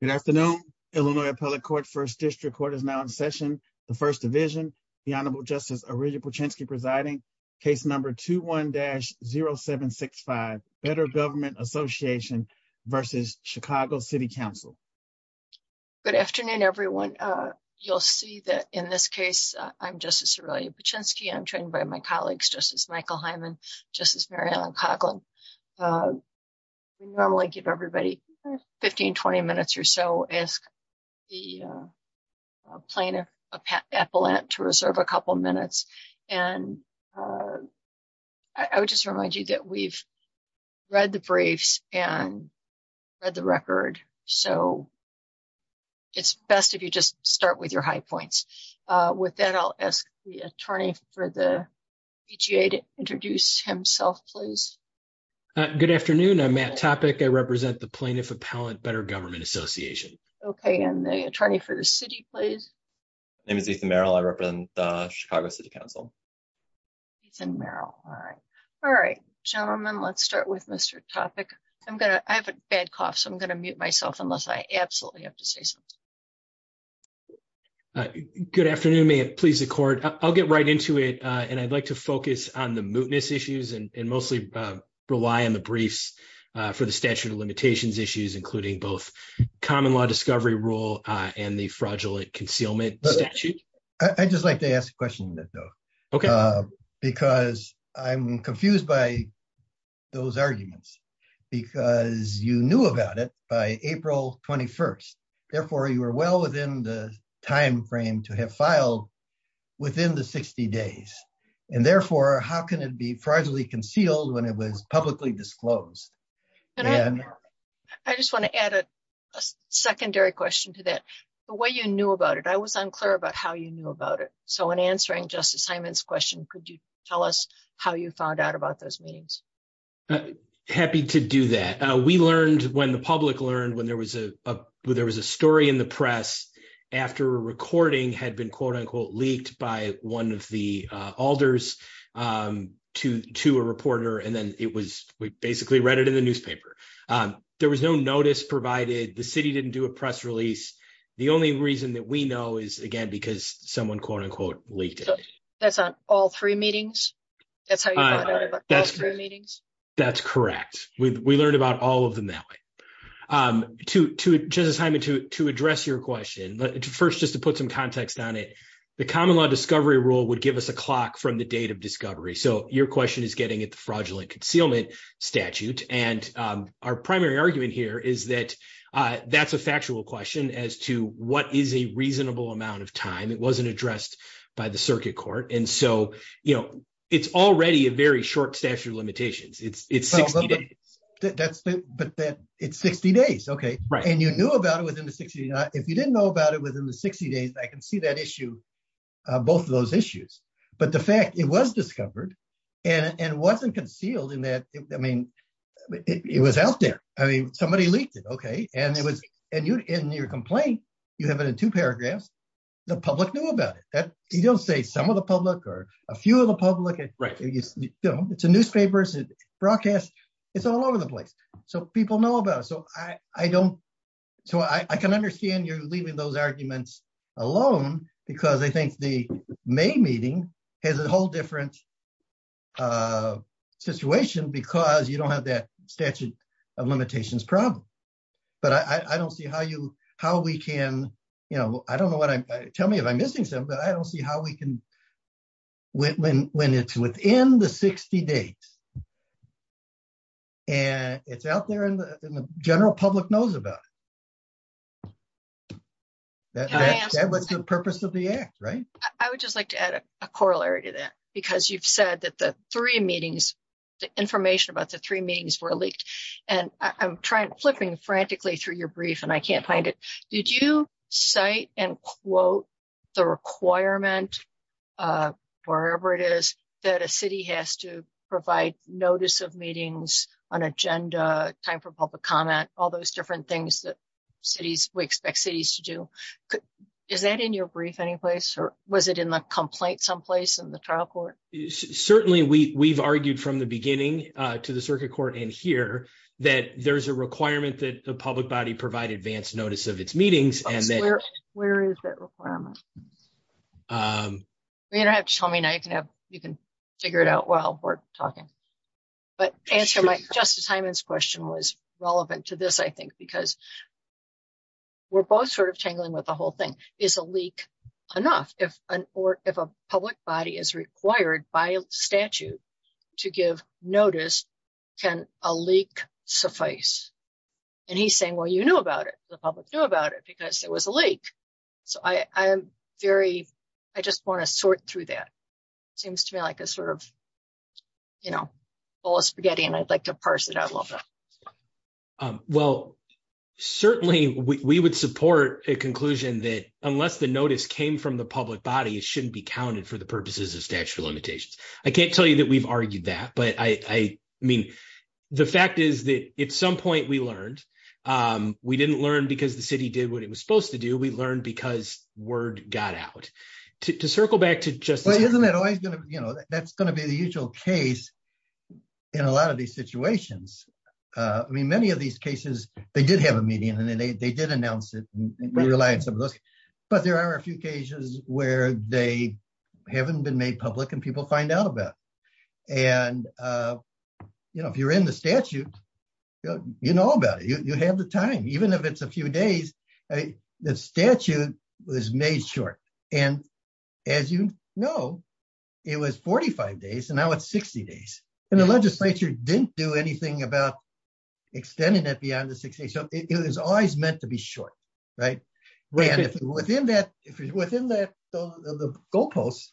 Good afternoon, Illinois Appellate Court, 1st District Court is now in session. The First Division, the Honorable Justice Aurelia Paczynski presiding, case number 21-0765, Better Government Association v. Chicago City Council. Good afternoon, everyone. You'll see that in this case, I'm Justice Aurelia Paczynski. I'm trained by my colleagues, Justice Michael Hyman, Justice Mary Ellen Coughlin. We normally give 15-20 minutes or so. Ask the plaintiff, Appellant, to reserve a couple minutes. I would just remind you that we've read the briefs and read the record, so it's best if you just start with your high points. With that, I'll ask the attorney for the PGA to introduce himself, please. Good afternoon. I'm Matt Topic. I represent the plaintiff, Appellant, Better Government Association. Okay. And the attorney for the city, please. My name is Ethan Merrill. I represent the Chicago City Council. Ethan Merrill. All right. Gentlemen, let's start with Mr. Topic. I have a bad cough, so I'm going to mute myself unless I absolutely have to say something. Good afternoon. May it please the court. I'll get right into it, and I'd like to focus on the issues and mostly rely on the briefs for the statute of limitations issues, including both common law discovery rule and the fraudulent concealment statute. I'd just like to ask a question, though, because I'm confused by those arguments, because you knew about it by April 21st. Therefore, you were well within the time frame to have filed within the 60 days. And therefore, how can it be fraudulently concealed when it was publicly disclosed? I just want to add a secondary question to that. The way you knew about it, I was unclear about how you knew about it. So in answering Justice Hyman's question, could you tell us how you found out about those meetings? Happy to do that. We learned, when the public learned, when there was a story in the press after a recording had been, quote unquote, leaked by one of the alders to a reporter, and then we basically read it in the newspaper. There was no notice provided. The city didn't do a press release. The only reason that we know is, again, because someone, quote unquote, leaked it. That's on all three meetings? That's how you found out about all three meetings? That's correct. We learned about all of them that way. Justice Hyman, to address your question, first, just to put some context on it, the common law discovery rule would give us a clock from the date of discovery. So your question is getting at the fraudulent concealment statute. And our primary argument here is that that's a factual question as to what is a reasonable amount of time. It wasn't addressed by the circuit court. And so it's already a very short statute of limitations. It's 60 days. But it's 60 days. And you knew about it within the 60 days. If you didn't know about it within the 60 days, I can see that issue, both of those issues. But the fact it was discovered and wasn't concealed in that, I mean, it was out there. I mean, somebody leaked it. In your complaint, you have it in two paragraphs. The public knew about it. You don't say some of the place. So people know about it. So I can understand you're leaving those arguments alone because they think the May meeting has a whole different situation because you don't have that statute of limitations problem. But I don't see how we can, I don't know what I'm, tell me if I'm missing something, but I don't see how we can, when it's within the 60 days and it's out there in the general public knows about it. That was the purpose of the act, right? I would just like to add a corollary to that because you've said that the three meetings, the information about the three meetings were leaked. And I'm trying, flipping frantically through your brief and I can't find it. Did you cite and quote the requirement, wherever it is, that a city has to provide notice of meetings, an agenda, time for public comment, all those different things that cities, we expect cities to do. Is that in your brief any place or was it in the complaint someplace in the trial court? Certainly we've argued from the beginning to the circuit court in here that there's a requirement that the public body provide advanced notice of its meetings. Where is that requirement? You don't have to tell me now, you can have, you can figure it out while we're talking. But answer my, Justice Hyman's question was relevant to this, I think, because we're both sort of tangling with the whole thing. Is a leak enough if an, or if a public body is and he's saying, well, you knew about it, the public knew about it because it was a leak. So I'm very, I just want to sort through that. Seems to me like a sort of, you know, bowl of spaghetti and I'd like to parse it out a little bit. Well, certainly we would support a conclusion that unless the notice came from the public body, it shouldn't be counted for the purposes of statute of limitations. I can't tell you that we've argued that, but I mean, the fact is that at some point we learned, we didn't learn because the city did what it was supposed to do. We learned because word got out. To circle back to Justice Hyman. Well, isn't it always going to, you know, that's going to be the usual case in a lot of these situations. I mean, many of these cases, they did have a meeting and they did announce it and we relied on some of those, but there are a few cases where they haven't been made public and people find out about it. And, you know, if you're in the statute, you know about it, you have the time, even if it's a few days, the statute was made short. And as you know, it was 45 days and now it's 60 days and the legislature didn't do anything about extending it beyond the 60. So it was always meant to be short, right? Within that, within that goalposts.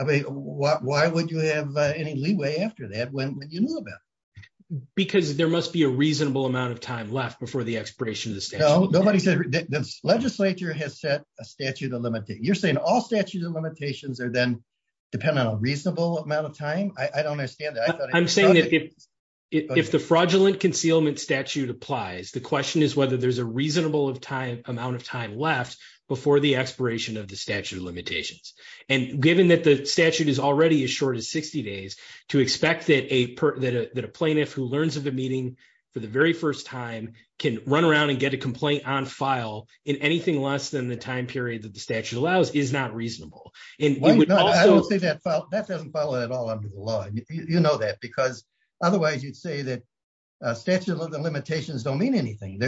I mean, why would you have any leeway after that when you knew about it? Because there must be a reasonable amount of time left before the expiration of the statute. Nobody said, the legislature has set a statute of limitations. You're saying all statutes and limitations are then dependent on a reasonable amount of time. I don't understand that. I'm saying that if the fraudulent concealment statute applies, the question is whether there's reasonable amount of time left before the expiration of the statute of limitations. And given that the statute is already as short as 60 days, to expect that a plaintiff who learns of the meeting for the very first time can run around and get a complaint on file in anything less than the time period that the statute allows is not reasonable. And we would also- I would say that doesn't follow at all under the law. You know that because otherwise you'd say statute of limitations don't mean anything.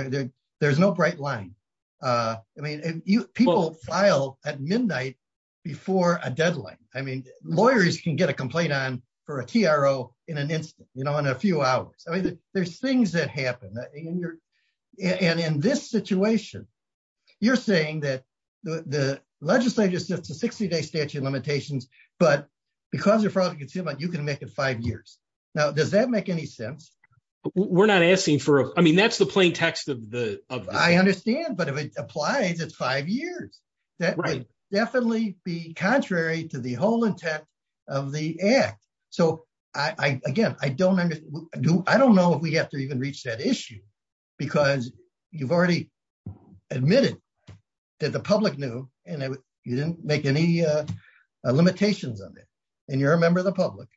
There's no bright line. I mean, people file at midnight before a deadline. I mean, lawyers can get a complaint on for a TRO in an instant, you know, in a few hours. I mean, there's things that happen. And in this situation, you're saying that the legislature sets a 60-day statute of limitations, but because of fraudulent concealment, you can make it five years. Now, does that make any sense? We're not asking for- I mean, that's the plain text of the- I understand, but if it applies, it's five years. That would definitely be contrary to the whole intent of the act. So, again, I don't know if we have to even reach that issue because you've admitted that the public knew, and you didn't make any limitations on it, and you're a member of the public.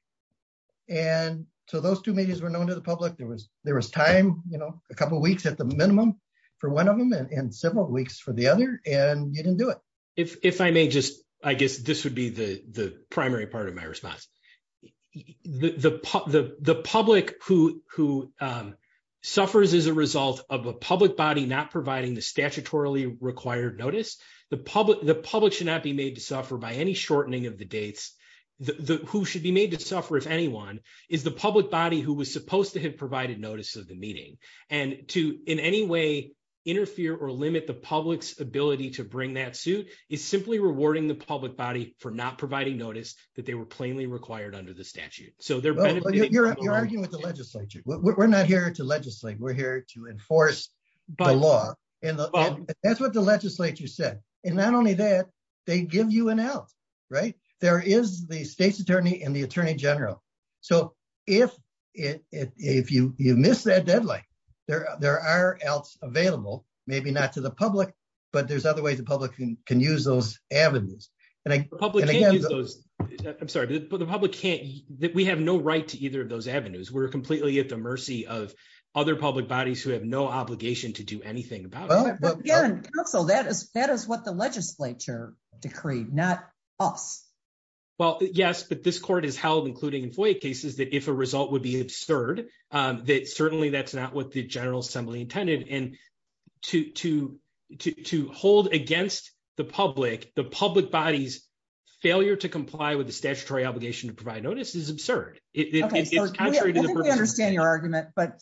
And so those two medias were known to the public. There was time, you know, a couple of weeks at the minimum for one of them and several weeks for the other, and you didn't do it. If I may just- I guess this would be the primary part of my response. The public who suffers as a result of a public body not providing the statutorily required notice, the public should not be made to suffer by any shortening of the dates. Who should be made to suffer, if anyone, is the public body who was supposed to have provided notice of the meeting. And to in any way interfere or limit the public's ability to bring that suit is simply rewarding the public body for not providing notice that they were plainly required under the statute. You're arguing with the legislature. We're not here to legislate. We're here to enforce the law. And that's what the legislature said. And not only that, they give you an out, right? There is the state's attorney and the attorney general. So if you miss that deadline, there are outs available, maybe not to the public, but there's other ways the public can use those rights. We have no right to either of those avenues. We're completely at the mercy of other public bodies who have no obligation to do anything about it. But again, counsel, that is what the legislature decreed, not us. Well, yes, but this court has held, including in FOIA cases, that if a result would be absurd, that certainly that's not what the General Assembly intended. And to hold against the public, the public body's failure to comply with the statutory obligation to provide notice is absurd. I think we understand your argument, but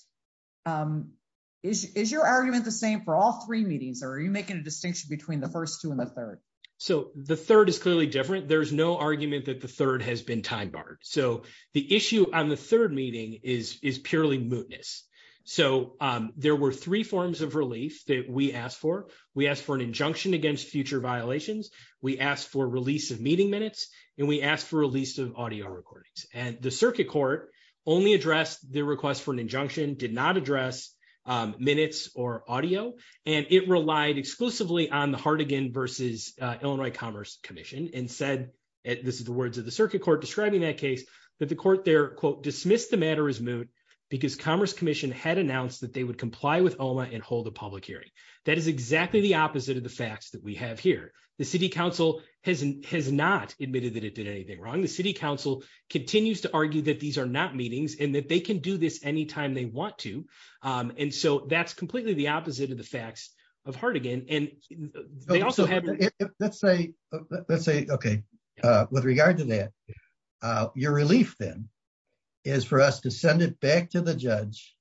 is your argument the same for all three meetings, or are you making a distinction between the first two and the third? So the third is clearly different. There's no argument that the third has been time barred. So the issue on the third meeting is purely mootness. So there were three forms of relief that we asked for. We asked for an injunction against future violations. We asked for release of meeting recordings. And the circuit court only addressed the request for an injunction, did not address minutes or audio. And it relied exclusively on the Hartigan v. Illinois Commerce Commission and said, this is the words of the circuit court describing that case, that the court there, quote, dismissed the matter as moot because Commerce Commission had announced that they would comply with OMA and hold a public hearing. That is exactly the opposite of the facts that we continue to argue that these are not meetings and that they can do this anytime they want to. And so that's completely the opposite of the facts of Hartigan. And they also have... Let's say, okay, with regard to that, your relief then is for us to send it back to the judge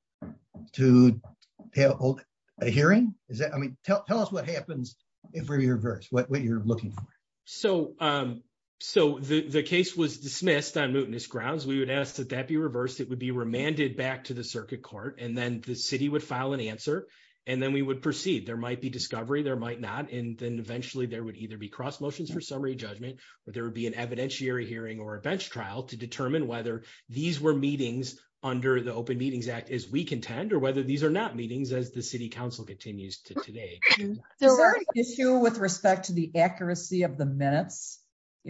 to hold a hearing? I mean, tell us what happens in reverse, what you're looking for. So the case was dismissed on mootness grounds. We would ask that that be reversed, it would be remanded back to the circuit court, and then the city would file an answer. And then we would proceed. There might be discovery, there might not. And then eventually, there would either be cross motions for summary judgment, or there would be an evidentiary hearing or a bench trial to determine whether these were meetings under the Open Meetings Act, as we contend, or whether these are not meetings as the city council continues to today. Is there an issue with respect to the accuracy of the minutes?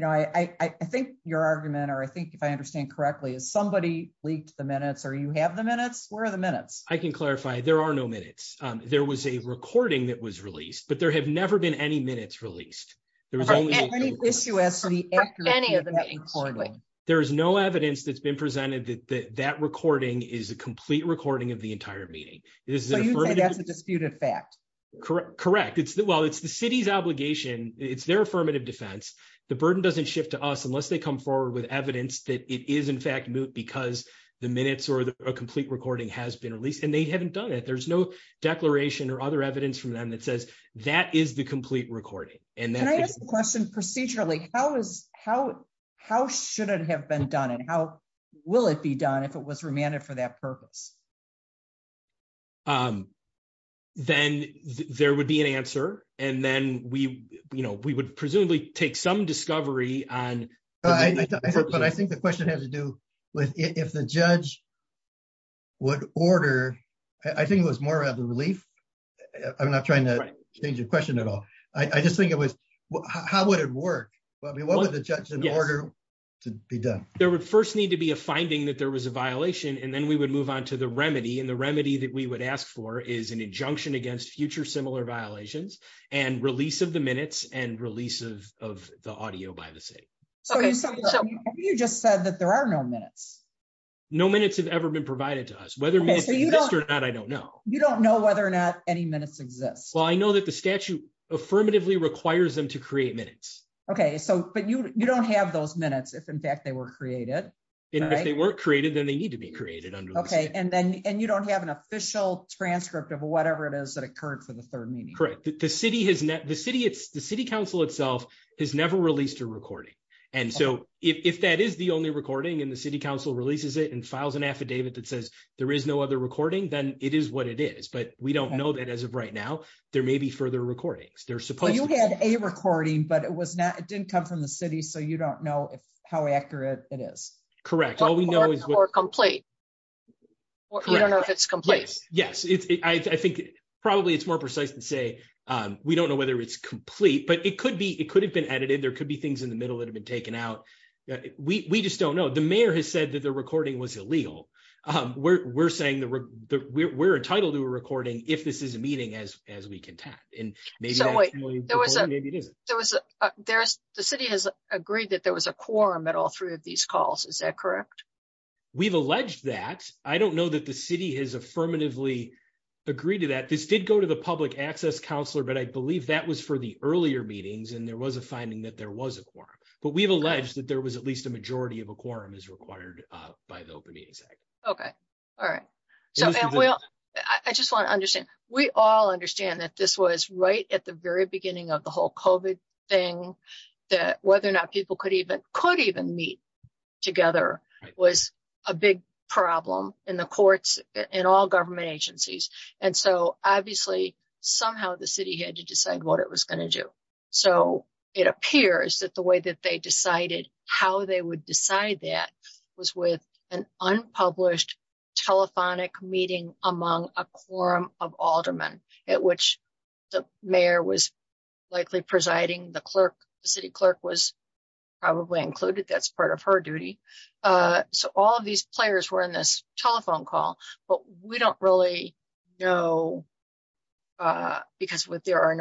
I think your argument, or I think if I understand correctly, is somebody leaked the minutes, or you have the minutes? Where are the minutes? I can clarify. There are no minutes. There was a recording that was released, but there have never been any minutes released. There was only... Any issue as to the accuracy of that recording? There is no evidence that's been presented that that recording is a complete recording of the entire meeting. So you'd say that's a disputed fact? Correct. Well, it's the city's obligation. It's their affirmative defense. The burden doesn't shift to us unless they come forward with evidence that it is in fact moot because the minutes or a complete recording has been released, and they haven't done it. There's no declaration or other evidence from them that says that is the complete recording. Can I ask a question procedurally? How should it have been done, and how will it be done if it was remanded for that purpose? Then there would be an answer, and then we would presumably take some discovery on... I think the question has to do with if the judge would order... I think it was more about the relief. I'm not trying to change the question at all. I just think it was how would it work? I mean, what would the judge order to be done? There would first need to be a finding that was a violation, and then we would move on to the remedy. The remedy that we would ask for is an injunction against future similar violations, and release of the minutes, and release of the audio by the city. So you just said that there are no minutes? No minutes have ever been provided to us. Whether minutes exist or not, I don't know. You don't know whether or not any minutes exist? Well, I know that the statute affirmatively requires them to create minutes. Okay, but you don't have those minutes if in need to be created under the statute? Okay, and you don't have an official transcript of whatever it is that occurred for the third meeting? Correct. The city council itself has never released a recording. And so if that is the only recording, and the city council releases it and files an affidavit that says there is no other recording, then it is what it is. But we don't know that as of right now. There may be further recordings. They're supposed to be. You had a recording, but it didn't come from the city, so you don't know how accurate it is. Correct. All we know is... Or complete. You don't know if it's complete. Yes. I think probably it's more precise to say we don't know whether it's complete, but it could have been edited. There could be things in the middle that have been taken out. We just don't know. The mayor has said that the recording was illegal. We're saying we're entitled to a recording if this is a meeting as we contact. Wait. The city has agreed that there was a quorum at all three of these calls. Is that correct? We've alleged that. I don't know that the city has affirmatively agreed to that. This did go to the public access counselor, but I believe that was for the earlier meetings, and there was a finding that there was a quorum. But we've alleged that there was at least a majority of a quorum as required by the Open Meetings Act. Okay. All right. I just want to understand. We all understand that this was right at the very beginning of the whole COVID thing, that whether or not people could even meet together was a big problem in the courts, in all government agencies. And so obviously, somehow the city had to decide what it was going to do. So it appears that the way that they decided how they would decide that was with an unpublished telephonic meeting among a quorum of aldermen at which the mayor was likely presiding, the city clerk was probably included. That's part of her duty. So all of these players were in this telephone call, but we don't really know because there are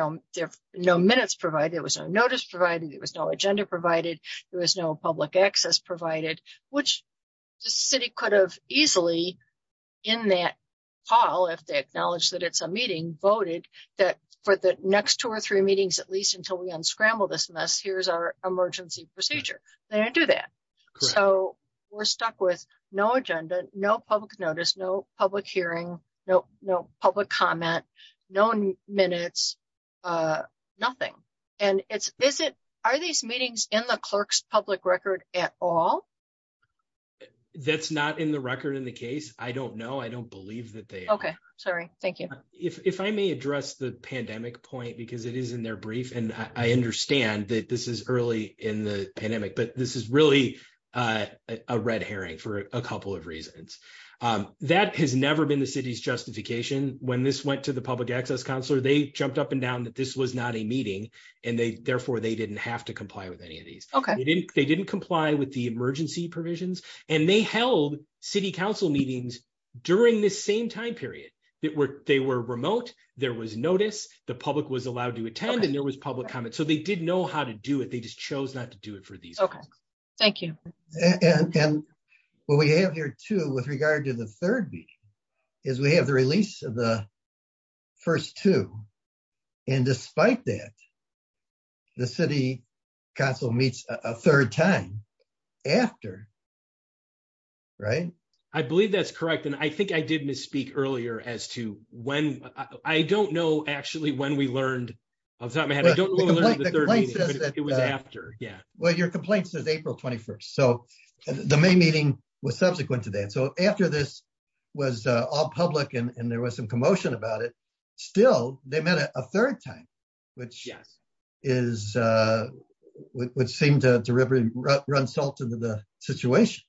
no minutes provided, there was no notice provided, there was no agenda provided, there was no public access provided, which the city could have easily in that call, if they acknowledge that it's a meeting, voted that for the next two or three meetings, at least until we unscramble this mess, here's our emergency procedure. They didn't do that. So we're stuck with no agenda, no public notice, no public hearing, no public comment, no minutes, uh, nothing. And it's, is it, are these meetings in the clerk's public record at all? That's not in the record in the case. I don't know. I don't believe that they are. Okay, sorry. Thank you. If I may address the pandemic point, because it is in their brief, and I understand that this is early in the pandemic, but this is really a red herring for a couple of reasons. That has never been the city's justification. When this went to the public access counselor, they jumped up and down that this was not a meeting, and they, therefore, they didn't have to comply with any of these. Okay. They didn't comply with the emergency provisions, and they held city council meetings during this same time period. They were remote, there was notice, the public was allowed to attend, and there was public comment. So they didn't know how to do it. They just chose not to do it for these reasons. Okay, thank you. And what we have here too, with regard to the third meeting, is we have the release of the first two, and despite that, the city council meets a third time after, right? I believe that's correct, and I think I did misspeak earlier as to when. I don't know actually when we learned. I don't remember the third meeting, but it was after, yeah. Well, your complaint says April 21st, so the main meeting was subsequent to that. So after this was all public, and there was some commotion about it, still, they met a third time, which seemed to run salt into the situation.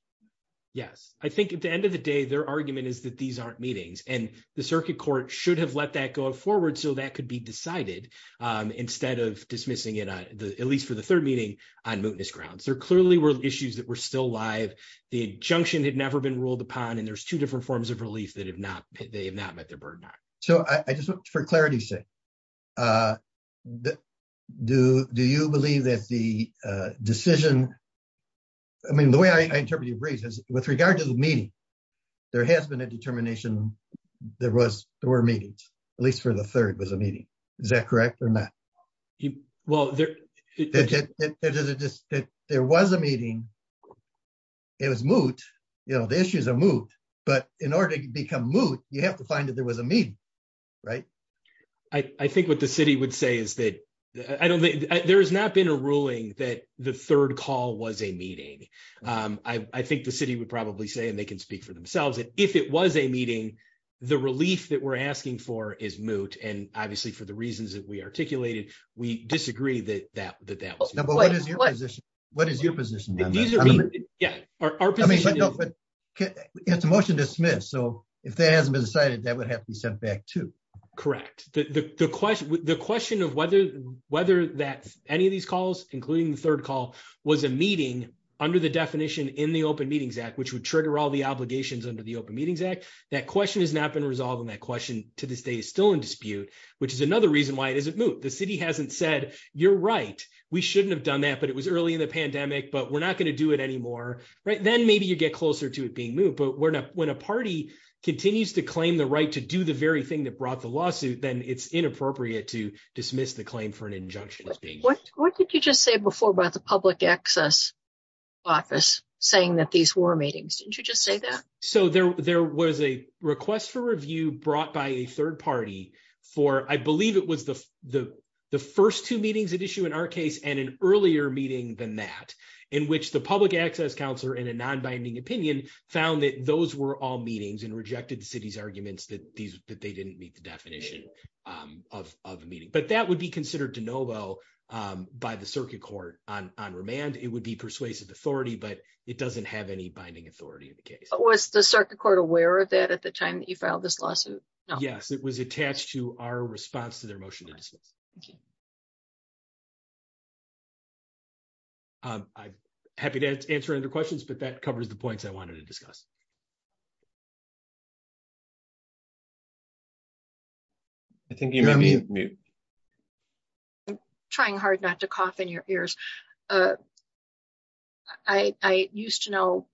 Yes. I think at the end of the day, their argument is that these aren't meetings, and the circuit court should have let that go forward so that could be decided instead of dismissing it, at least for the third meeting, on mootness grounds. There clearly were issues that were still live. The injunction had never been ruled upon, and there's two different forms of relief that they have not met their burden on. So I just want for clarity's sake, do you believe that the decision... I mean, the way I interpret your brief is, with regard to the meeting, there has been a determination there were meetings, at least for the third was a meeting. Is that correct or not? Well, there was a meeting. It was moot. The issues are moot. But in order to become moot, you have to find that there was a meeting, right? I think what the city would say is that there has not been a ruling that the third call was a meeting. I think the city would probably say, and they can speak for themselves, that if it was a meeting, the relief that we're asking for is moot. And obviously, for the reasons that we articulated, we disagree that that was moot. But what is your position? What is your position on that? These are meetings. Yeah, our position is... I mean, but no, but it's a motion to dismiss. So if that hasn't been decided, that would have to be sent back too. Correct. The question of whether any of these calls, including the third call, was a meeting under the definition in the Open Meetings Act, which would trigger all the obligations under the Open Meetings Act, that question has not been resolved on that question to this day is still in dispute, which is another reason why it isn't moot. The city hasn't said, you're right, we shouldn't have done that, but it was early in the pandemic, but we're not going to do it anymore. Then maybe you get closer to it being moot. But when a party continues to claim the right to do the very thing that brought the lawsuit, then it's inappropriate to dismiss the claim for an injunction. What did you just say before about the public access office saying that these were meetings? Didn't you just say that? So there was a request for review brought by a third party for, I believe it was the first two meetings at issue in our case and an earlier meeting than that, in which the public access counselor in a non-binding opinion found that those were all meetings and rejected the city's arguments that they didn't meet the definition of a meeting. But that would be considered de novo by the circuit court on remand. It would be persuasive authority, but it doesn't have any circuit court aware of that at the time that you filed this lawsuit. Yes, it was attached to our response to their motion to dismiss. I'm happy to answer any questions, but that covers the points I wanted to discuss. I think you may be on mute. I'm trying hard not to cough in your ears. I used to know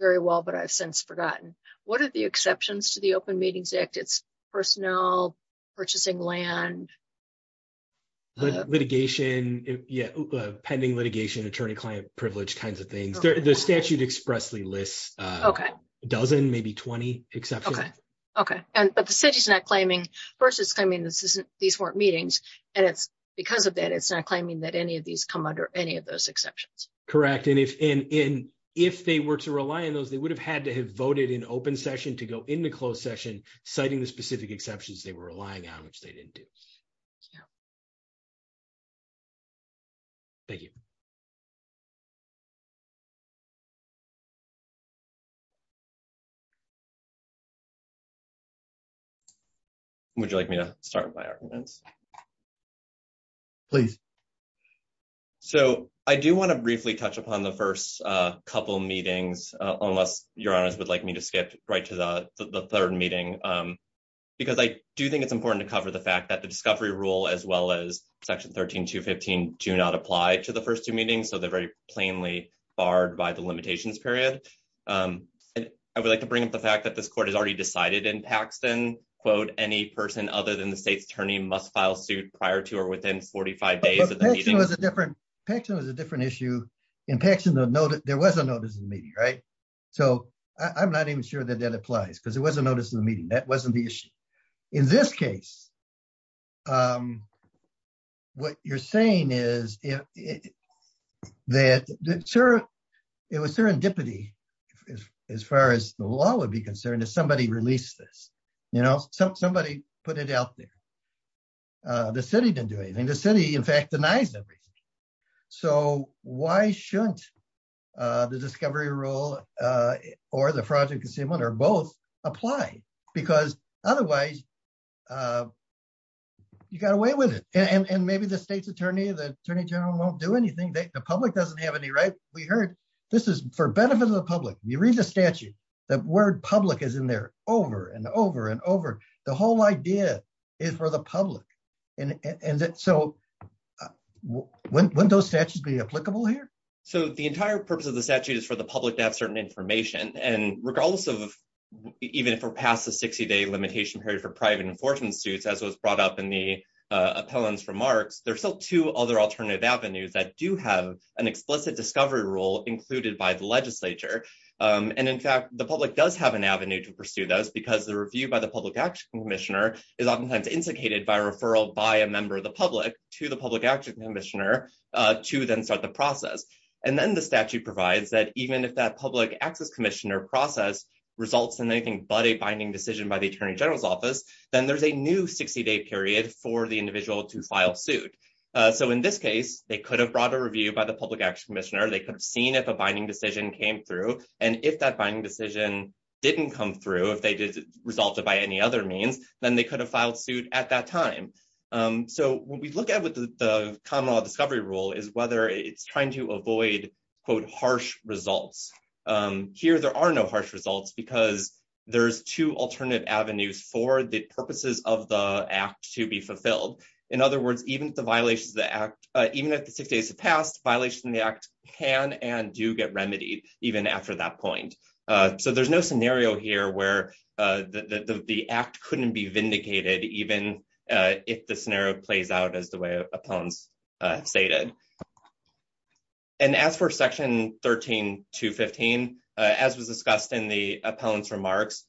very well, but I've since forgotten. What are the exceptions to the Open Meetings Act? It's personnel, purchasing land. Litigation, pending litigation, attorney-client privilege kinds of things. The statute expressly lists a dozen, maybe 20 exceptions. Okay. But the city's not claiming, first it's claiming these weren't meetings. And because of that, it's not claiming that any of these come under any of those exceptions. Correct. And if they were to rely on those, they would have had to have voted in open session to go into closed session, citing the specific exceptions they were relying on, which they didn't do. Thank you. Would you like me to start my arguments? Please. So I do want to briefly touch upon the first couple of meetings, unless your honors would like me to skip right to the third meeting. Because I do think it's important to cover the fact that the discovery rule, as well as Section 13215, do not apply to the first two meetings. So they're very plainly barred by the limitations period. I would like to bring up the fact that this court has already decided in Paxton, quote, any person other than the state's attorney must file suit prior to or within 45 days of the meeting. Paxton was a different issue. In Paxton, there was a notice of the meeting, right? So I'm not even sure that that applies, because there was a notice of the meeting. That wasn't the issue. In this case, what you're saying is that it was serendipity, as far as the law would concern, that somebody released this. Somebody put it out there. The city didn't do anything. The city, in fact, denies everything. So why shouldn't the discovery rule or the fraudulent concealment or both apply? Because otherwise, you got away with it. And maybe the state's attorney, the attorney general, won't do anything. The public doesn't have any right. We heard this for benefit of the public. You read the statute, the word public is in there over and over and over. The whole idea is for the public. And so wouldn't those statutes be applicable here? So the entire purpose of the statute is for the public to have certain information. And regardless of even if we're past the 60-day limitation period for private enforcement suits, as was brought up in the appellant's remarks, there's still two other alternative avenues that do have an explicit discovery rule included by the legislature. And in fact, the public does have an avenue to pursue those because the review by the public action commissioner is oftentimes instigated by a referral by a member of the public to the public action commissioner to then start the process. And then the statute provides that even if that public access commissioner process results in anything but a binding decision by the attorney general's office, then there's a new 60-day period for the individual to file suit. So in this case, they could have brought a review by the public action commissioner. They could have seen if a binding decision came through. And if that binding decision didn't come through, if they did resolve it by any other means, then they could have filed suit at that time. So what we look at with the common law discovery rule is whether it's trying to avoid, quote, harsh results. Here there are no harsh results because there's two alternate avenues for the purposes of the act to be fulfilled. In other words, even if the violations of the act, even if the 60 days have passed, violations in the act can and do get remedied even after that point. So there's no scenario here where the act couldn't be vindicated even if the scenario plays out as the way Appellant's stated. And as for Section 13-15, as was discussed in the Appellant's remarks,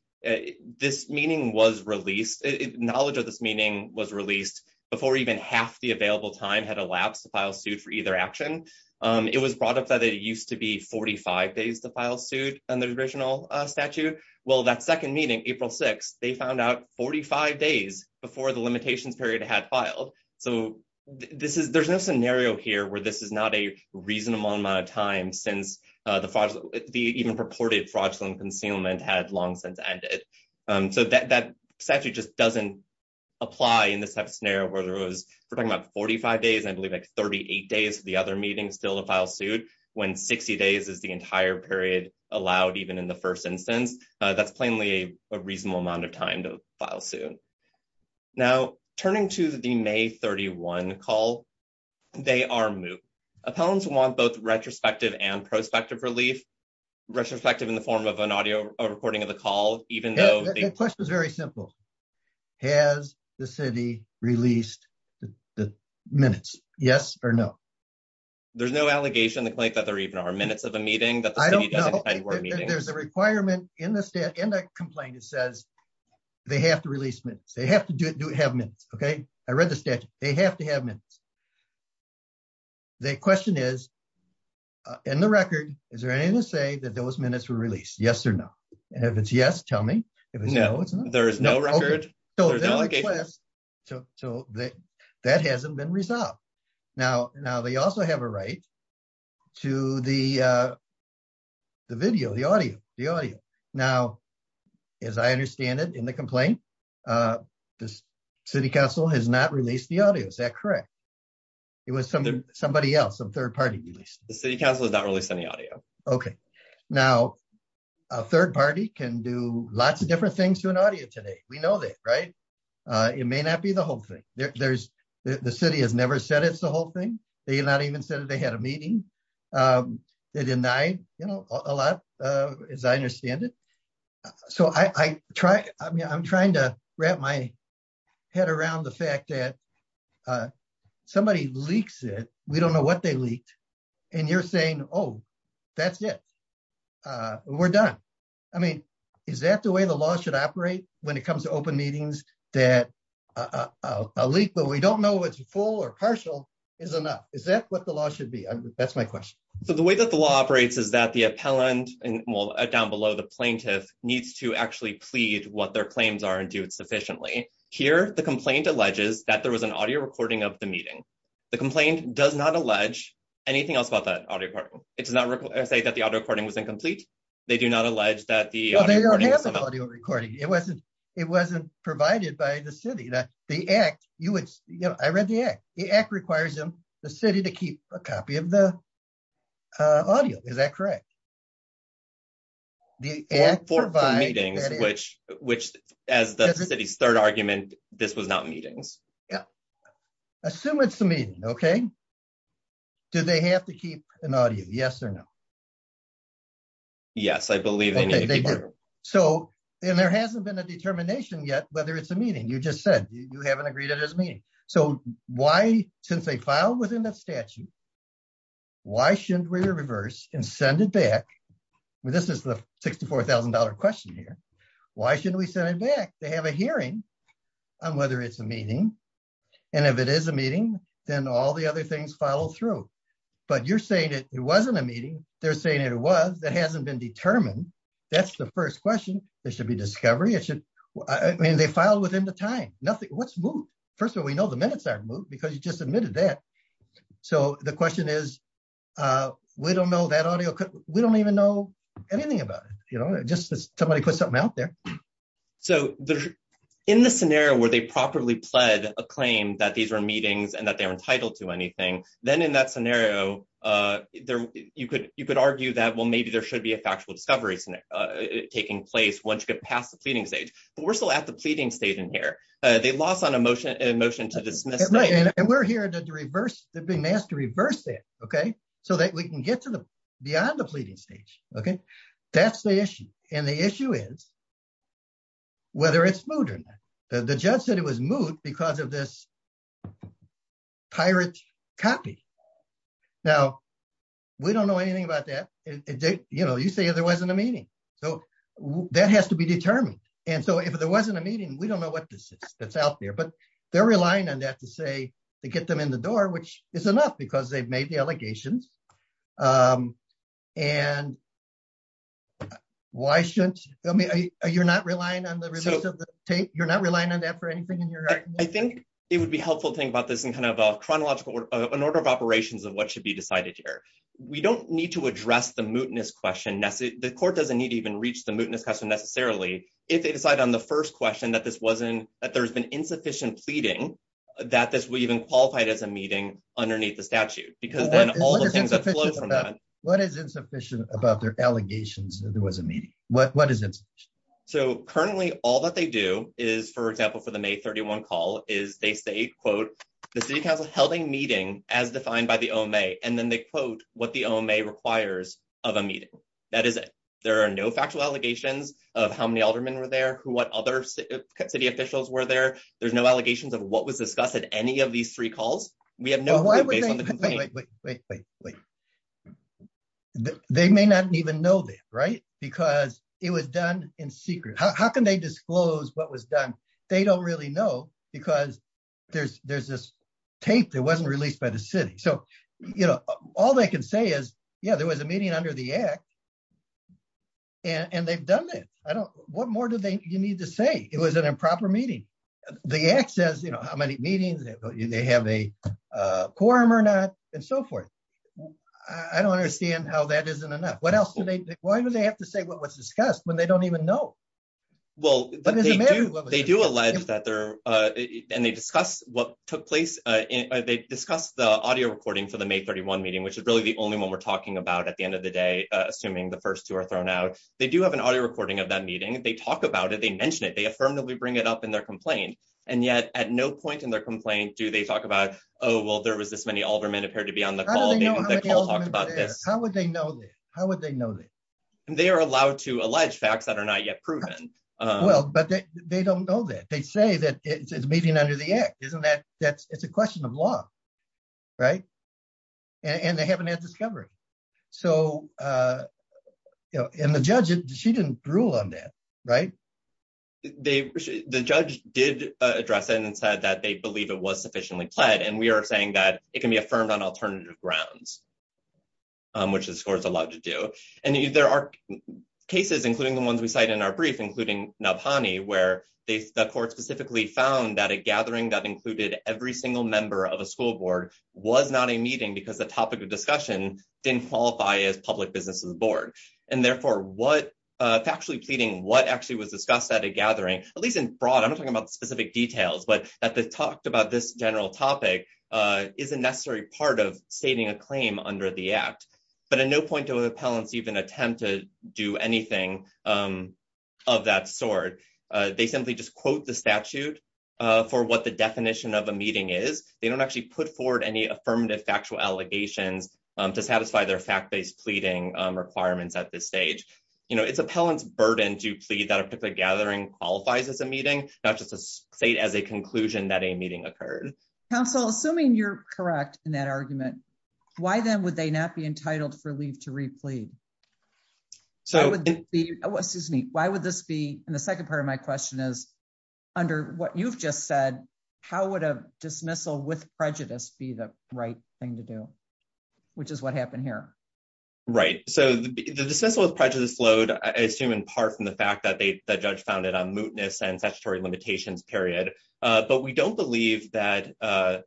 this meaning was released, knowledge of this meaning was released before even half the available time had elapsed to file suit for either action. It was brought up that it used to be 45 days to file suit under the original statute. Well, that second meeting, April 6th, they found out 45 days before the limitations period had filed. So there's no scenario here where this is not a reasonable amount of time since the even purported fraudulent concealment had long since ended. So that statute just doesn't apply in this type of scenario where there was, we're talking about 45 days, I believe like 38 days for the other meeting still to file suit, when 60 days is the entire period allowed even in the first instance. That's plainly a reasonable amount of time to file suit. Now, turning to the May 31 call, they are moot. Appellants want both retrospective and prospective relief. Retrospective in the form of an audio recording of the call, even though- The question is very simple. Has the city released the minutes? Yes or no? There's no allegation in the complaint that there even are minutes of a meeting that the city- I don't know. There's a requirement in the complaint that says they have to release minutes. They have to have minutes, okay? I read the statute. They have to have minutes. The question is, in the record, is there anything to say that those minutes were released? Yes or no? If it's yes, tell me. If it's no, it's no. There is no record. There's no allegation. That hasn't been resolved. Now, they also have a right to the video, the audio. Now, as I understand it in the complaint, the city council has not released the audio. Is that correct? It was somebody else, a third party released it. The city council has not released any audio. Okay. Now, a third party can do lots of different things to an audio today. We know that, right? It may not be the whole thing. The city has never said it's the whole thing. They did not even say that they had a meeting. They denied a lot, as I understand it. So, I'm trying to wrap my head around the fact that somebody leaks it. We don't know what they did. That's it. We're done. I mean, is that the way the law should operate when it comes to open meetings that a leak, but we don't know if it's full or partial, is enough? Is that what the law should be? That's my question. So, the way that the law operates is that the appellant, well, down below the plaintiff, needs to actually plead what their claims are and do it sufficiently. Here, the complaint alleges that there was an audio recording of the meeting. The complaint does not allege anything else about that audio recording. It does not say that the audio recording was incomplete. They do not allege that the audio recording was complete. It wasn't provided by the city. I read the act. The act requires the city to keep a copy of the audio. Is that correct? For meetings, which, as the city's third argument, this was not meetings. Yeah. Assume it's a meeting, okay? Do they have to keep an audio? Yes or no? Yes, I believe they need to keep one. So, and there hasn't been a determination yet whether it's a meeting. You just said you haven't agreed it as a meeting. So, why, since they filed within that statute, why shouldn't we reverse and send it back? Well, this is the $64,000 question here. Why shouldn't we send it back? They have a hearing on whether it's a meeting, and if it is a meeting, then all the other things follow through. But you're saying it wasn't a meeting. They're saying it was. That hasn't been determined. That's the first question. There should be discovery. It should, I mean, they filed within the time. Nothing, what's moved? First of all, we know the minutes aren't moved because you just admitted that. So, the question is, we don't know that audio, we don't even know anything about it. Just somebody put something out there. So, in the scenario where they properly pled a claim that these were meetings and that they're entitled to anything, then in that scenario, you could argue that, well, maybe there should be a factual discovery taking place once you get past the pleading stage. But we're still at the pleading stage in here. They lost on a motion to dismiss. Right, and we're here to reverse, they've been asked to reverse it, okay, so that we can get to the, beyond the pleading stage, okay. That's the issue. And the issue is whether it's moot or not. The judge said it was moot because of this pirate copy. Now, we don't know anything about that. You know, you say there wasn't a meeting. So, that has to be determined. And so, if there wasn't a meeting, we don't know what this is that's out there. But they're relying on that to say, to get them in the door, which is why shouldn't, I mean, you're not relying on the release of the tape, you're not relying on that for anything in your argument? I think it would be helpful to think about this in kind of a chronological, an order of operations of what should be decided here. We don't need to address the mootness question. The court doesn't need to even reach the mootness question necessarily if they decide on the first question that this wasn't, that there's been insufficient pleading that this will even qualify it as a meeting underneath the statute. Because then all the things that flow from that. What is insufficient about their allegations that there was a meeting? What is insufficient? So, currently, all that they do is, for example, for the May 31 call, is they say, quote, the city council held a meeting as defined by the OMA, and then they quote what the OMA requires of a meeting. That is it. There are no factual allegations of how many aldermen were there, what other city officials were there. There's no allegations of what was done. They may not even know that, right? Because it was done in secret. How can they disclose what was done? They don't really know, because there's this tape that wasn't released by the city. So, you know, all they can say is, yeah, there was a meeting under the Act, and they've done it. I don't, what more do they, you need to say? It was an improper meeting. The Act says, you know, how many meetings, they have a quorum or not, and so forth. I don't understand how that isn't enough. What else do they, why do they have to say what was discussed when they don't even know? Well, but they do, they do allege that there, and they discuss what took place, they discuss the audio recording for the May 31 meeting, which is really the only one we're talking about at the end of the day, assuming the first two are thrown out. They do have an audio recording of that meeting. They talk about it, they mention it, they affirmatively bring it up in their complaint, and yet at no point in their complaint do they talk about, oh, well, there was this many aldermen appeared to be on the call. How would they know that? How would they know that? They are allowed to allege facts that are not yet proven. Well, but they don't know that. They say that it's a meeting under the Act. Isn't that, that's, it's a question of law, right? And they haven't had discovery. So, you know, and the judge, she didn't rule on that, right? They, the judge did address it and said that they believe it was sufficiently pled, and we are saying that it can be affirmed on alternative grounds, which the score is allowed to do. And there are cases, including the ones we cite in our brief, including Nabhani, where they, the court specifically found that a gathering that included every single member of a school board was not a meeting because the topic of discussion didn't qualify as public business to the board. And therefore, what, factually pleading what actually was discussed at a gathering, at least in broad, I'm not talking about specific details, but that they talked about this general topic is a necessary part of stating a claim under the Act. But at no point do appellants even attempt to do anything of that sort. They simply just quote the statute for what the definition of a meeting is. They don't actually put forward any affirmative factual allegations to satisfy their fact-based pleading requirements at this stage. You know, it's appellant's burden to plead that a particular gathering qualifies as a meeting, not just a state as a conclusion that a meeting occurred. Counsel, assuming you're correct in that argument, why then would they not be entitled for leave to replead? So, excuse me, why would this be, and the second part of my question is, under what you've just said, how would a dismissal with prejudice be the right thing to do? Which is what happened here. Right. So, the dismissal with prejudice flowed, I assume, in part from the fact that the judge found it on mootness and statutory limitations, period. But we don't believe that the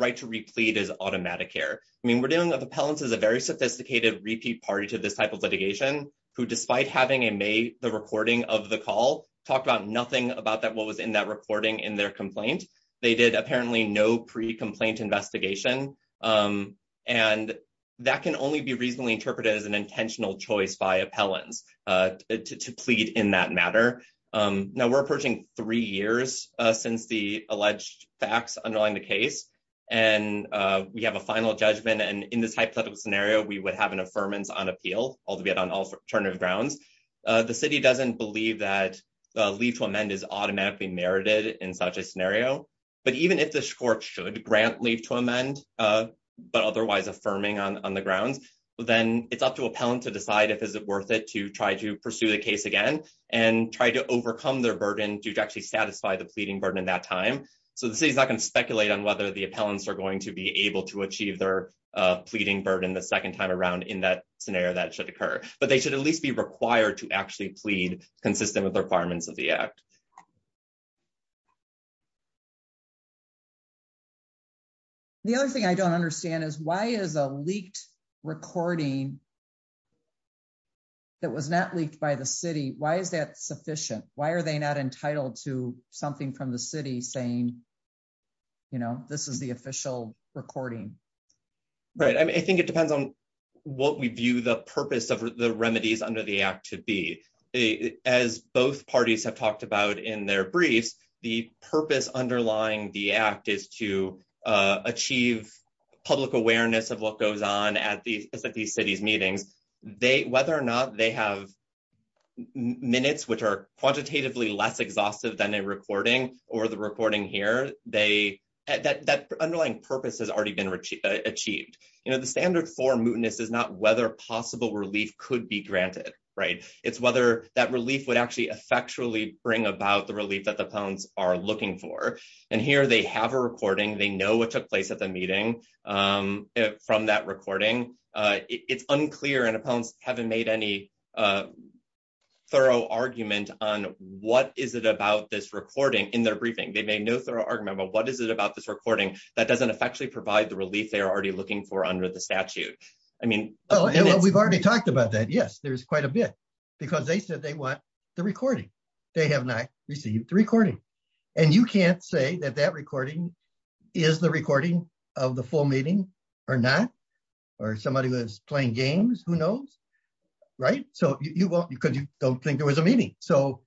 right to replead is automatic here. I mean, we're dealing with appellants as a very sophisticated repeat party to this type of litigation, who despite having made the recording of the call, talked about nothing about what was in that recording in their complaint. They did apparently no pre- that can only be reasonably interpreted as an intentional choice by appellants to plead in that matter. Now, we're approaching three years since the alleged facts underlying the case, and we have a final judgment. And in this hypothetical scenario, we would have an affirmance on appeal, albeit on alternative grounds. The city doesn't believe that leave to amend is automatically merited in such a scenario. But even if the court should grant leave to amend, but otherwise affirming on the grounds, then it's up to appellant to decide if is it worth it to try to pursue the case again, and try to overcome their burden to actually satisfy the pleading burden in that time. So, the city is not going to speculate on whether the appellants are going to be able to achieve their pleading burden the second time around in that scenario that should occur. But they should at least be required to actually plead consistent with the requirements of the act. The other thing I don't understand is why is a leaked recording that was not leaked by the city? Why is that sufficient? Why are they not entitled to something from the city saying, you know, this is the official recording? Right. I think it depends on what we view the purpose of the remedies under the act to be. As both parties have talked about in their briefs, the purpose underlying the act is to achieve public awareness of what goes on at the city's meetings. Whether or not they have minutes, which are quantitatively less exhaustive than a recording, or the recording here, that underlying purpose has already been achieved. You know, the standard for mootness is not whether possible relief could be granted, right? It's whether that relief would actually effectually bring about the relief that the appellants are looking for. And here they have a recording. They know what took place at the meeting from that recording. It's unclear, and appellants haven't made any thorough argument on what is it about this recording in their briefing. They made no thorough argument about what is it about this recording that doesn't effectually provide the relief. We've already talked about that. Yes, there's quite a bit, because they said they want the recording. They have not received the recording. And you can't say that that recording is the recording of the full meeting or not, or somebody was playing games, who knows, right? So you won't, because you don't think there was a meeting. So,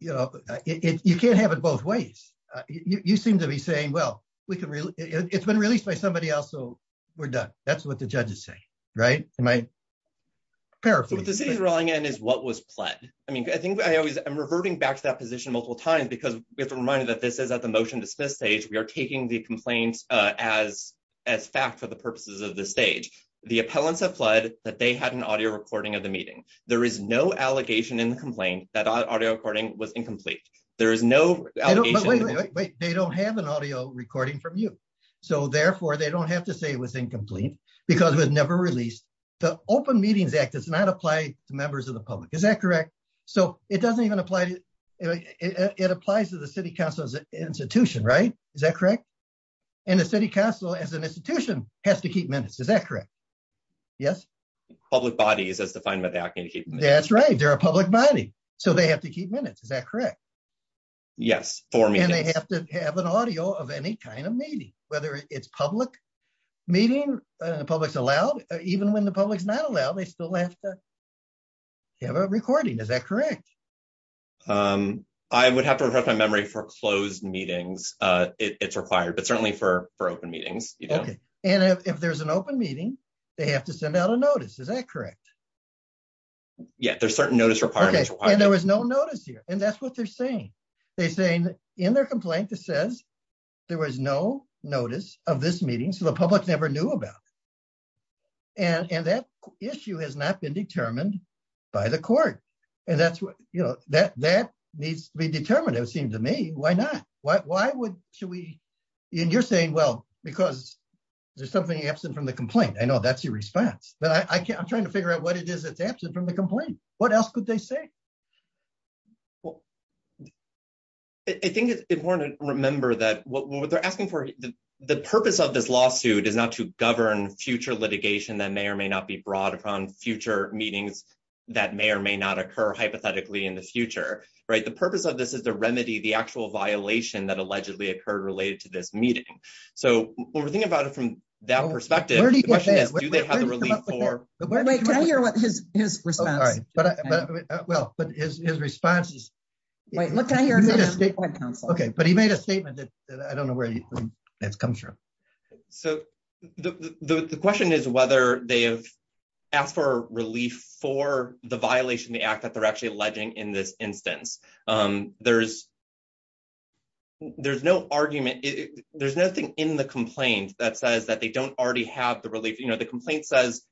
you know, you can't have it both ways. You seem to be saying, well, we can, it's been released by somebody else, so we're done. That's what the judges say, right? Am I paraphrasing? So what the city's rolling in is what was pled. I mean, I think I always, I'm reverting back to that position multiple times, because we have to remind you that this is at the motion to dismiss stage. We are taking the complaints as fact for the purposes of this stage. The appellants have pled that they had an audio recording of the meeting. There is no allegation in the complaint that audio recording was incomplete. There is no allegation. But wait, wait, wait, they don't have an audio recording from you. So therefore, they don't have to say it was incomplete because it was never released. The open meetings act does not apply to members of the public. Is that correct? So it doesn't even apply to, it applies to the city council's institution, right? Is that correct? And the city council as an institution has to keep minutes. Is that correct? Yes. Public bodies as defined by the act. That's right. They're a public body. So they have to keep minutes. Is that correct? Yes. And they have to have an audio of any kind of meeting, whether it's a public meeting, even when the public's not allowed, they still have to have a recording. Is that correct? I would have to refresh my memory for closed meetings. It's required, but certainly for open meetings. Okay. And if there's an open meeting, they have to send out a notice. Is that correct? Yeah, there's certain notice requirements. And there was no notice here. And that's what they're saying. They're saying in their complaint, it says there was no notice of this meeting. So the public never knew about it. And that issue has not been determined by the court. And that needs to be determined. It would seem to me, why not? Why would, should we, and you're saying, well, because there's something absent from the complaint. I know that's your response, but I'm trying to figure out what it is that's absent from the complaint. What else could they say? I think it's important to remember that what they're asking for, the purpose of this lawsuit is not to govern future litigation that may or may not be brought upon future meetings that may or may not occur hypothetically in the future, right? The purpose of this is the remedy, the actual violation that allegedly occurred related to this meeting. So when we're thinking about it from that perspective, the question is, do they have the relief for- Wait, can I hear his response? All right. Well, but his response is- Wait, what can I hear from him? Okay. But he made a statement that I don't know where it comes from. So the question is whether they have asked for relief for the violation of the act that they're actually alleging in this instance. There's no argument. There's nothing in the complaint that don't already have the relief. The complaint says,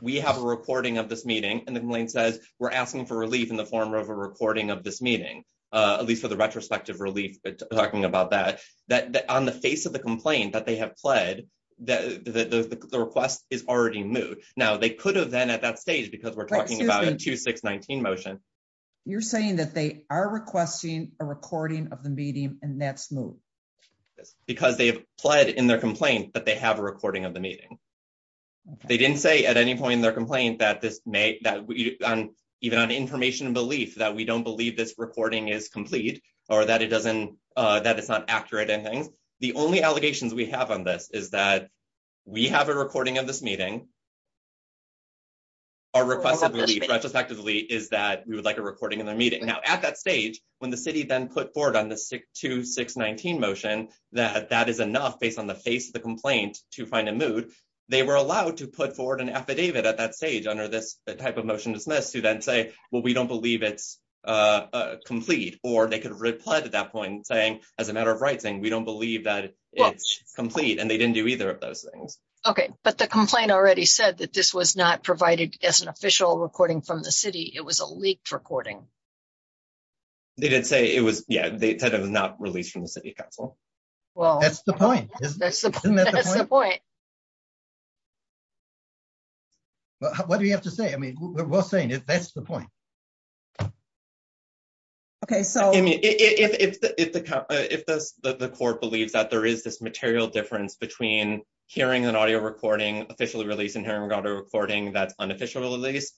we have a recording of this meeting, and the complaint says, we're asking for relief in the form of a recording of this meeting, at least for the retrospective relief, but talking about that, that on the face of the complaint that they have pled, the request is already moved. Now they could have then at that stage, because we're talking about a 2-6-19 motion. You're saying that they are requesting a recording of the meeting and that's moved? Yes, because they have pled in their complaint that they have a recording of the meeting. They didn't say at any point in their complaint that even on information and belief that we don't believe this recording is complete or that it's not accurate and things. The only allegations we have on this is that we have a recording of this meeting. Our request of relief retrospectively is that we would like a recording of their meeting. Now at that stage, when the city then put forward on the 2-6-19 motion that that is enough based on the face of the complaint to find a mood, they were allowed to put forward an affidavit at that stage under this type of motion to dismiss to then say, well, we don't believe it's complete. Or they could have replied at that point saying, as a matter of rights, saying we don't believe that it's complete, and they didn't do either of those things. Okay, but the complaint already said that this was not provided as an official recording from the city. It was a leaked recording. They did say it was, yeah, they said it was not released from the city council. Well, that's the point. Well, what do you have to say? I mean, we're saying that's the point. Okay, so if the court believes that there is this material difference between hearing an audio recording officially released and hearing audio recording that's unofficially released,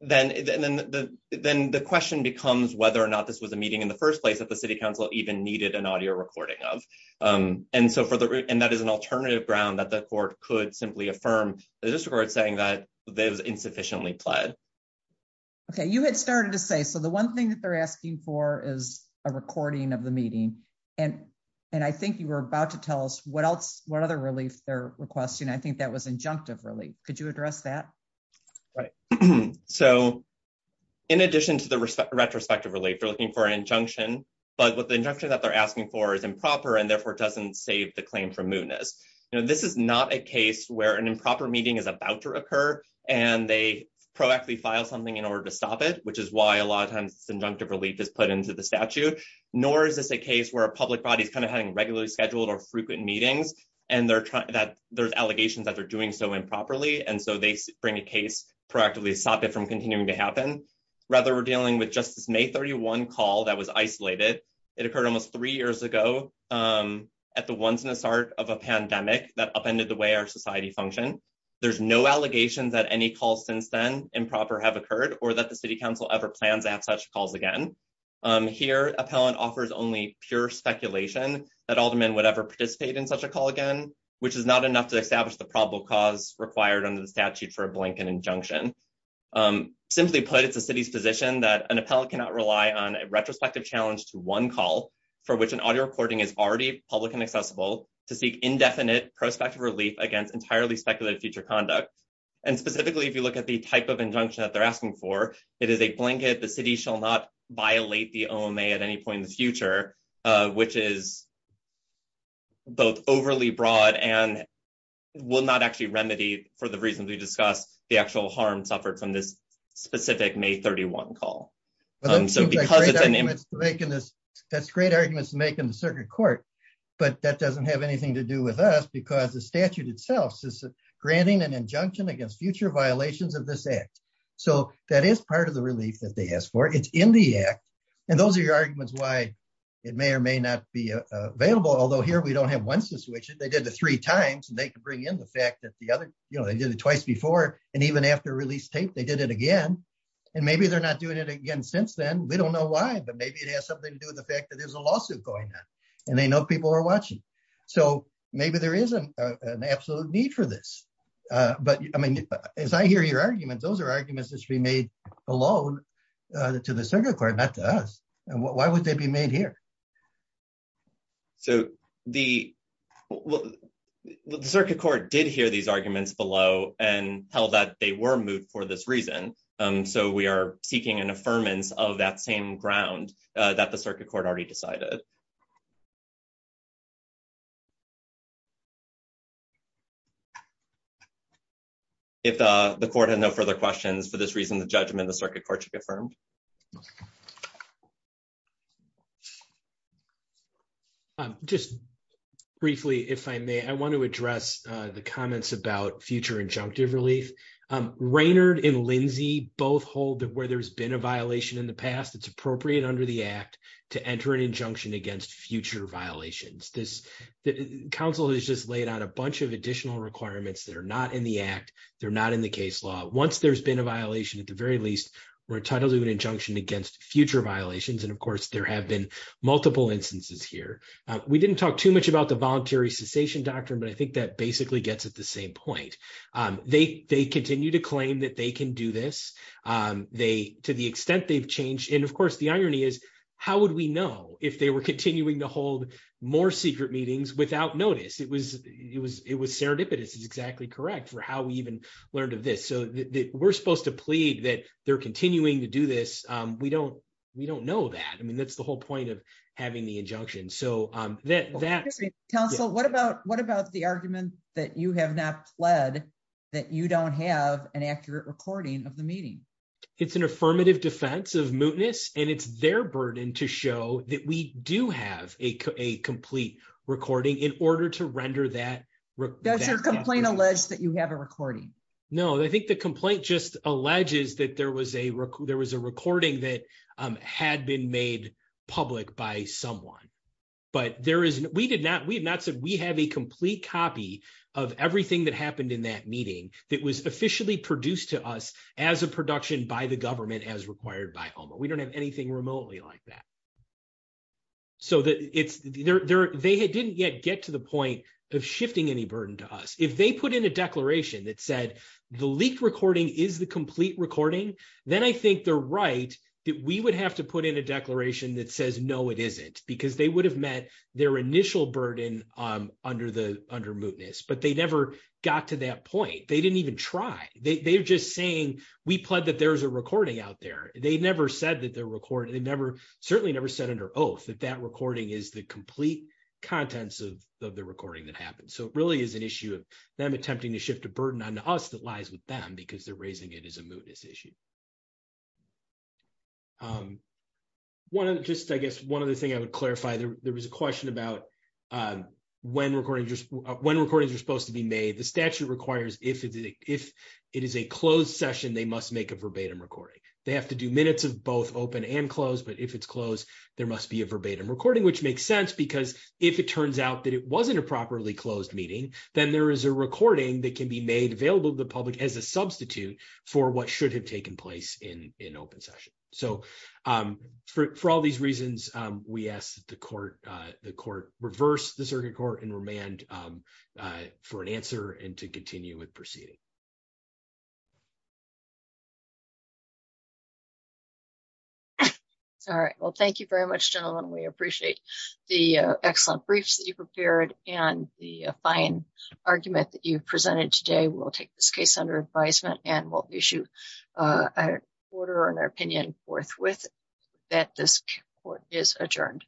then the question becomes whether or not this was a meeting in the first place that the city council even needed an audio recording of. And that is an alternative ground that the court could simply affirm the district court saying that it was insufficiently pled. Okay, you had started to say, so the one thing that they're asking for is a recording of the meeting, and I think you were about to tell us what other relief they're requesting. I think that was injunctive relief. Could you address that? Right, so in addition to the but the injunction that they're asking for is improper and therefore doesn't save the claim from mootness. You know, this is not a case where an improper meeting is about to occur and they proactively file something in order to stop it, which is why a lot of times this injunctive relief is put into the statute. Nor is this a case where a public body is kind of having regularly scheduled or frequent meetings and there's allegations that they're doing so improperly, and so they bring a case proactively to stop it from continuing to happen. Rather, we're dealing with just this May 31 call that was isolated. It occurred almost three years ago at the once in a start of a pandemic that upended the way our society functioned. There's no allegations that any calls since then improper have occurred or that the city council ever plans to have such calls again. Here, appellant offers only pure speculation that alderman would ever participate in such a call again, which is not enough to establish the probable cause required under the statute for a blanket injunction. Simply put, it's the city's position that an appellant cannot rely on a retrospective challenge to one call for which an audio recording is already public and accessible to seek indefinite prospective relief against entirely speculative future conduct. And specifically, if you look at the type of injunction that they're asking for, it is a blanket the city shall not violate the OMA at any point in the future, which is both overly broad and will not actually remedy for the reasons we discussed, the actual harm suffered from this specific May 31 call. That's great arguments to make in the circuit court, but that doesn't have anything to do with us because the statute itself says granting an injunction against future violations of this act. So that is part of the relief that they asked for. It's in the act. And those are your arguments why it may or may not be available. Although here, we don't have they did the three times and they could bring in the fact that the other, you know, they did it twice before and even after release tape, they did it again. And maybe they're not doing it again since then. We don't know why, but maybe it has something to do with the fact that there's a lawsuit going on and they know people are watching. So maybe there is an absolute need for this. But I mean, as I hear your arguments, those are arguments that should be made alone to the circuit court, not to us. And why would they be made here? So the circuit court did hear these arguments below and held that they were moved for this reason. So we are seeking an affirmance of that same ground that the circuit court already decided. If the court had no further questions for this reason, the judgment, the circuit court should move forward. Just briefly, if I may, I want to address the comments about future injunctive relief. Raynard and Lindsey both hold that where there's been a violation in the past, it's appropriate under the act to enter an injunction against future violations. Council has just laid out a bunch of additional requirements that are not in the act. They're not in the case law. Once there's been a violation, at the very least, we're entitled to an injunction against future violations. And of course, there have been multiple instances here. We didn't talk too much about the voluntary cessation doctrine, but I think that basically gets at the same point. They continue to claim that they can do this. To the extent they've changed. And of course, the irony is, how would we know if they were continuing to hold more secret meetings without notice? It was serendipitous. It's exactly correct for how we even learned of this. So we're supposed to plead that they're continuing to do this. We don't know that. I mean, that's the whole point of having the injunction. Council, what about the argument that you have not pled that you don't have an accurate recording of the meeting? It's an affirmative defense of mootness. And it's their burden to show that we do have a complete recording in order to render that. Does your complaint allege that you have a recording? No, I think the complaint just alleges that there was a recording that had been made public by someone. But we have not said we have a complete copy of everything that happened in that meeting that was officially produced to us as a production by the government as required by OMA. We don't anything remotely like that. So they didn't yet get to the point of shifting any burden to us. If they put in a declaration that said, the leaked recording is the complete recording, then I think they're right that we would have to put in a declaration that says, no, it isn't, because they would have met their initial burden under mootness. But they never got to that point. They didn't even try. They're just saying, we pled that there's a recording out there. They never said that they're recording. They certainly never said under oath that that recording is the complete contents of the recording that happened. So it really is an issue of them attempting to shift a burden onto us that lies with them because they're raising it as a mootness issue. Just, I guess, one other thing I would clarify. There was a question about when recordings are supposed to be made. The statute requires if it is a closed session, they must make a verbatim recording. They have to do minutes of both open and closed. But if it's closed, there must be a verbatim recording, which makes sense because if it turns out that it wasn't a properly closed meeting, then there is a recording that can be made available to the public as a substitute for what should have taken place in an open session. So for all these reasons, we ask that the court reverse the circuit court and remand for an answer and to continue with proceeding. All right. Well, thank you very much, gentlemen. We appreciate the excellent briefs that you prepared and the fine argument that you presented today. We'll take this case under advisement and we'll issue an order and our opinion forthwith that this court is adjourned.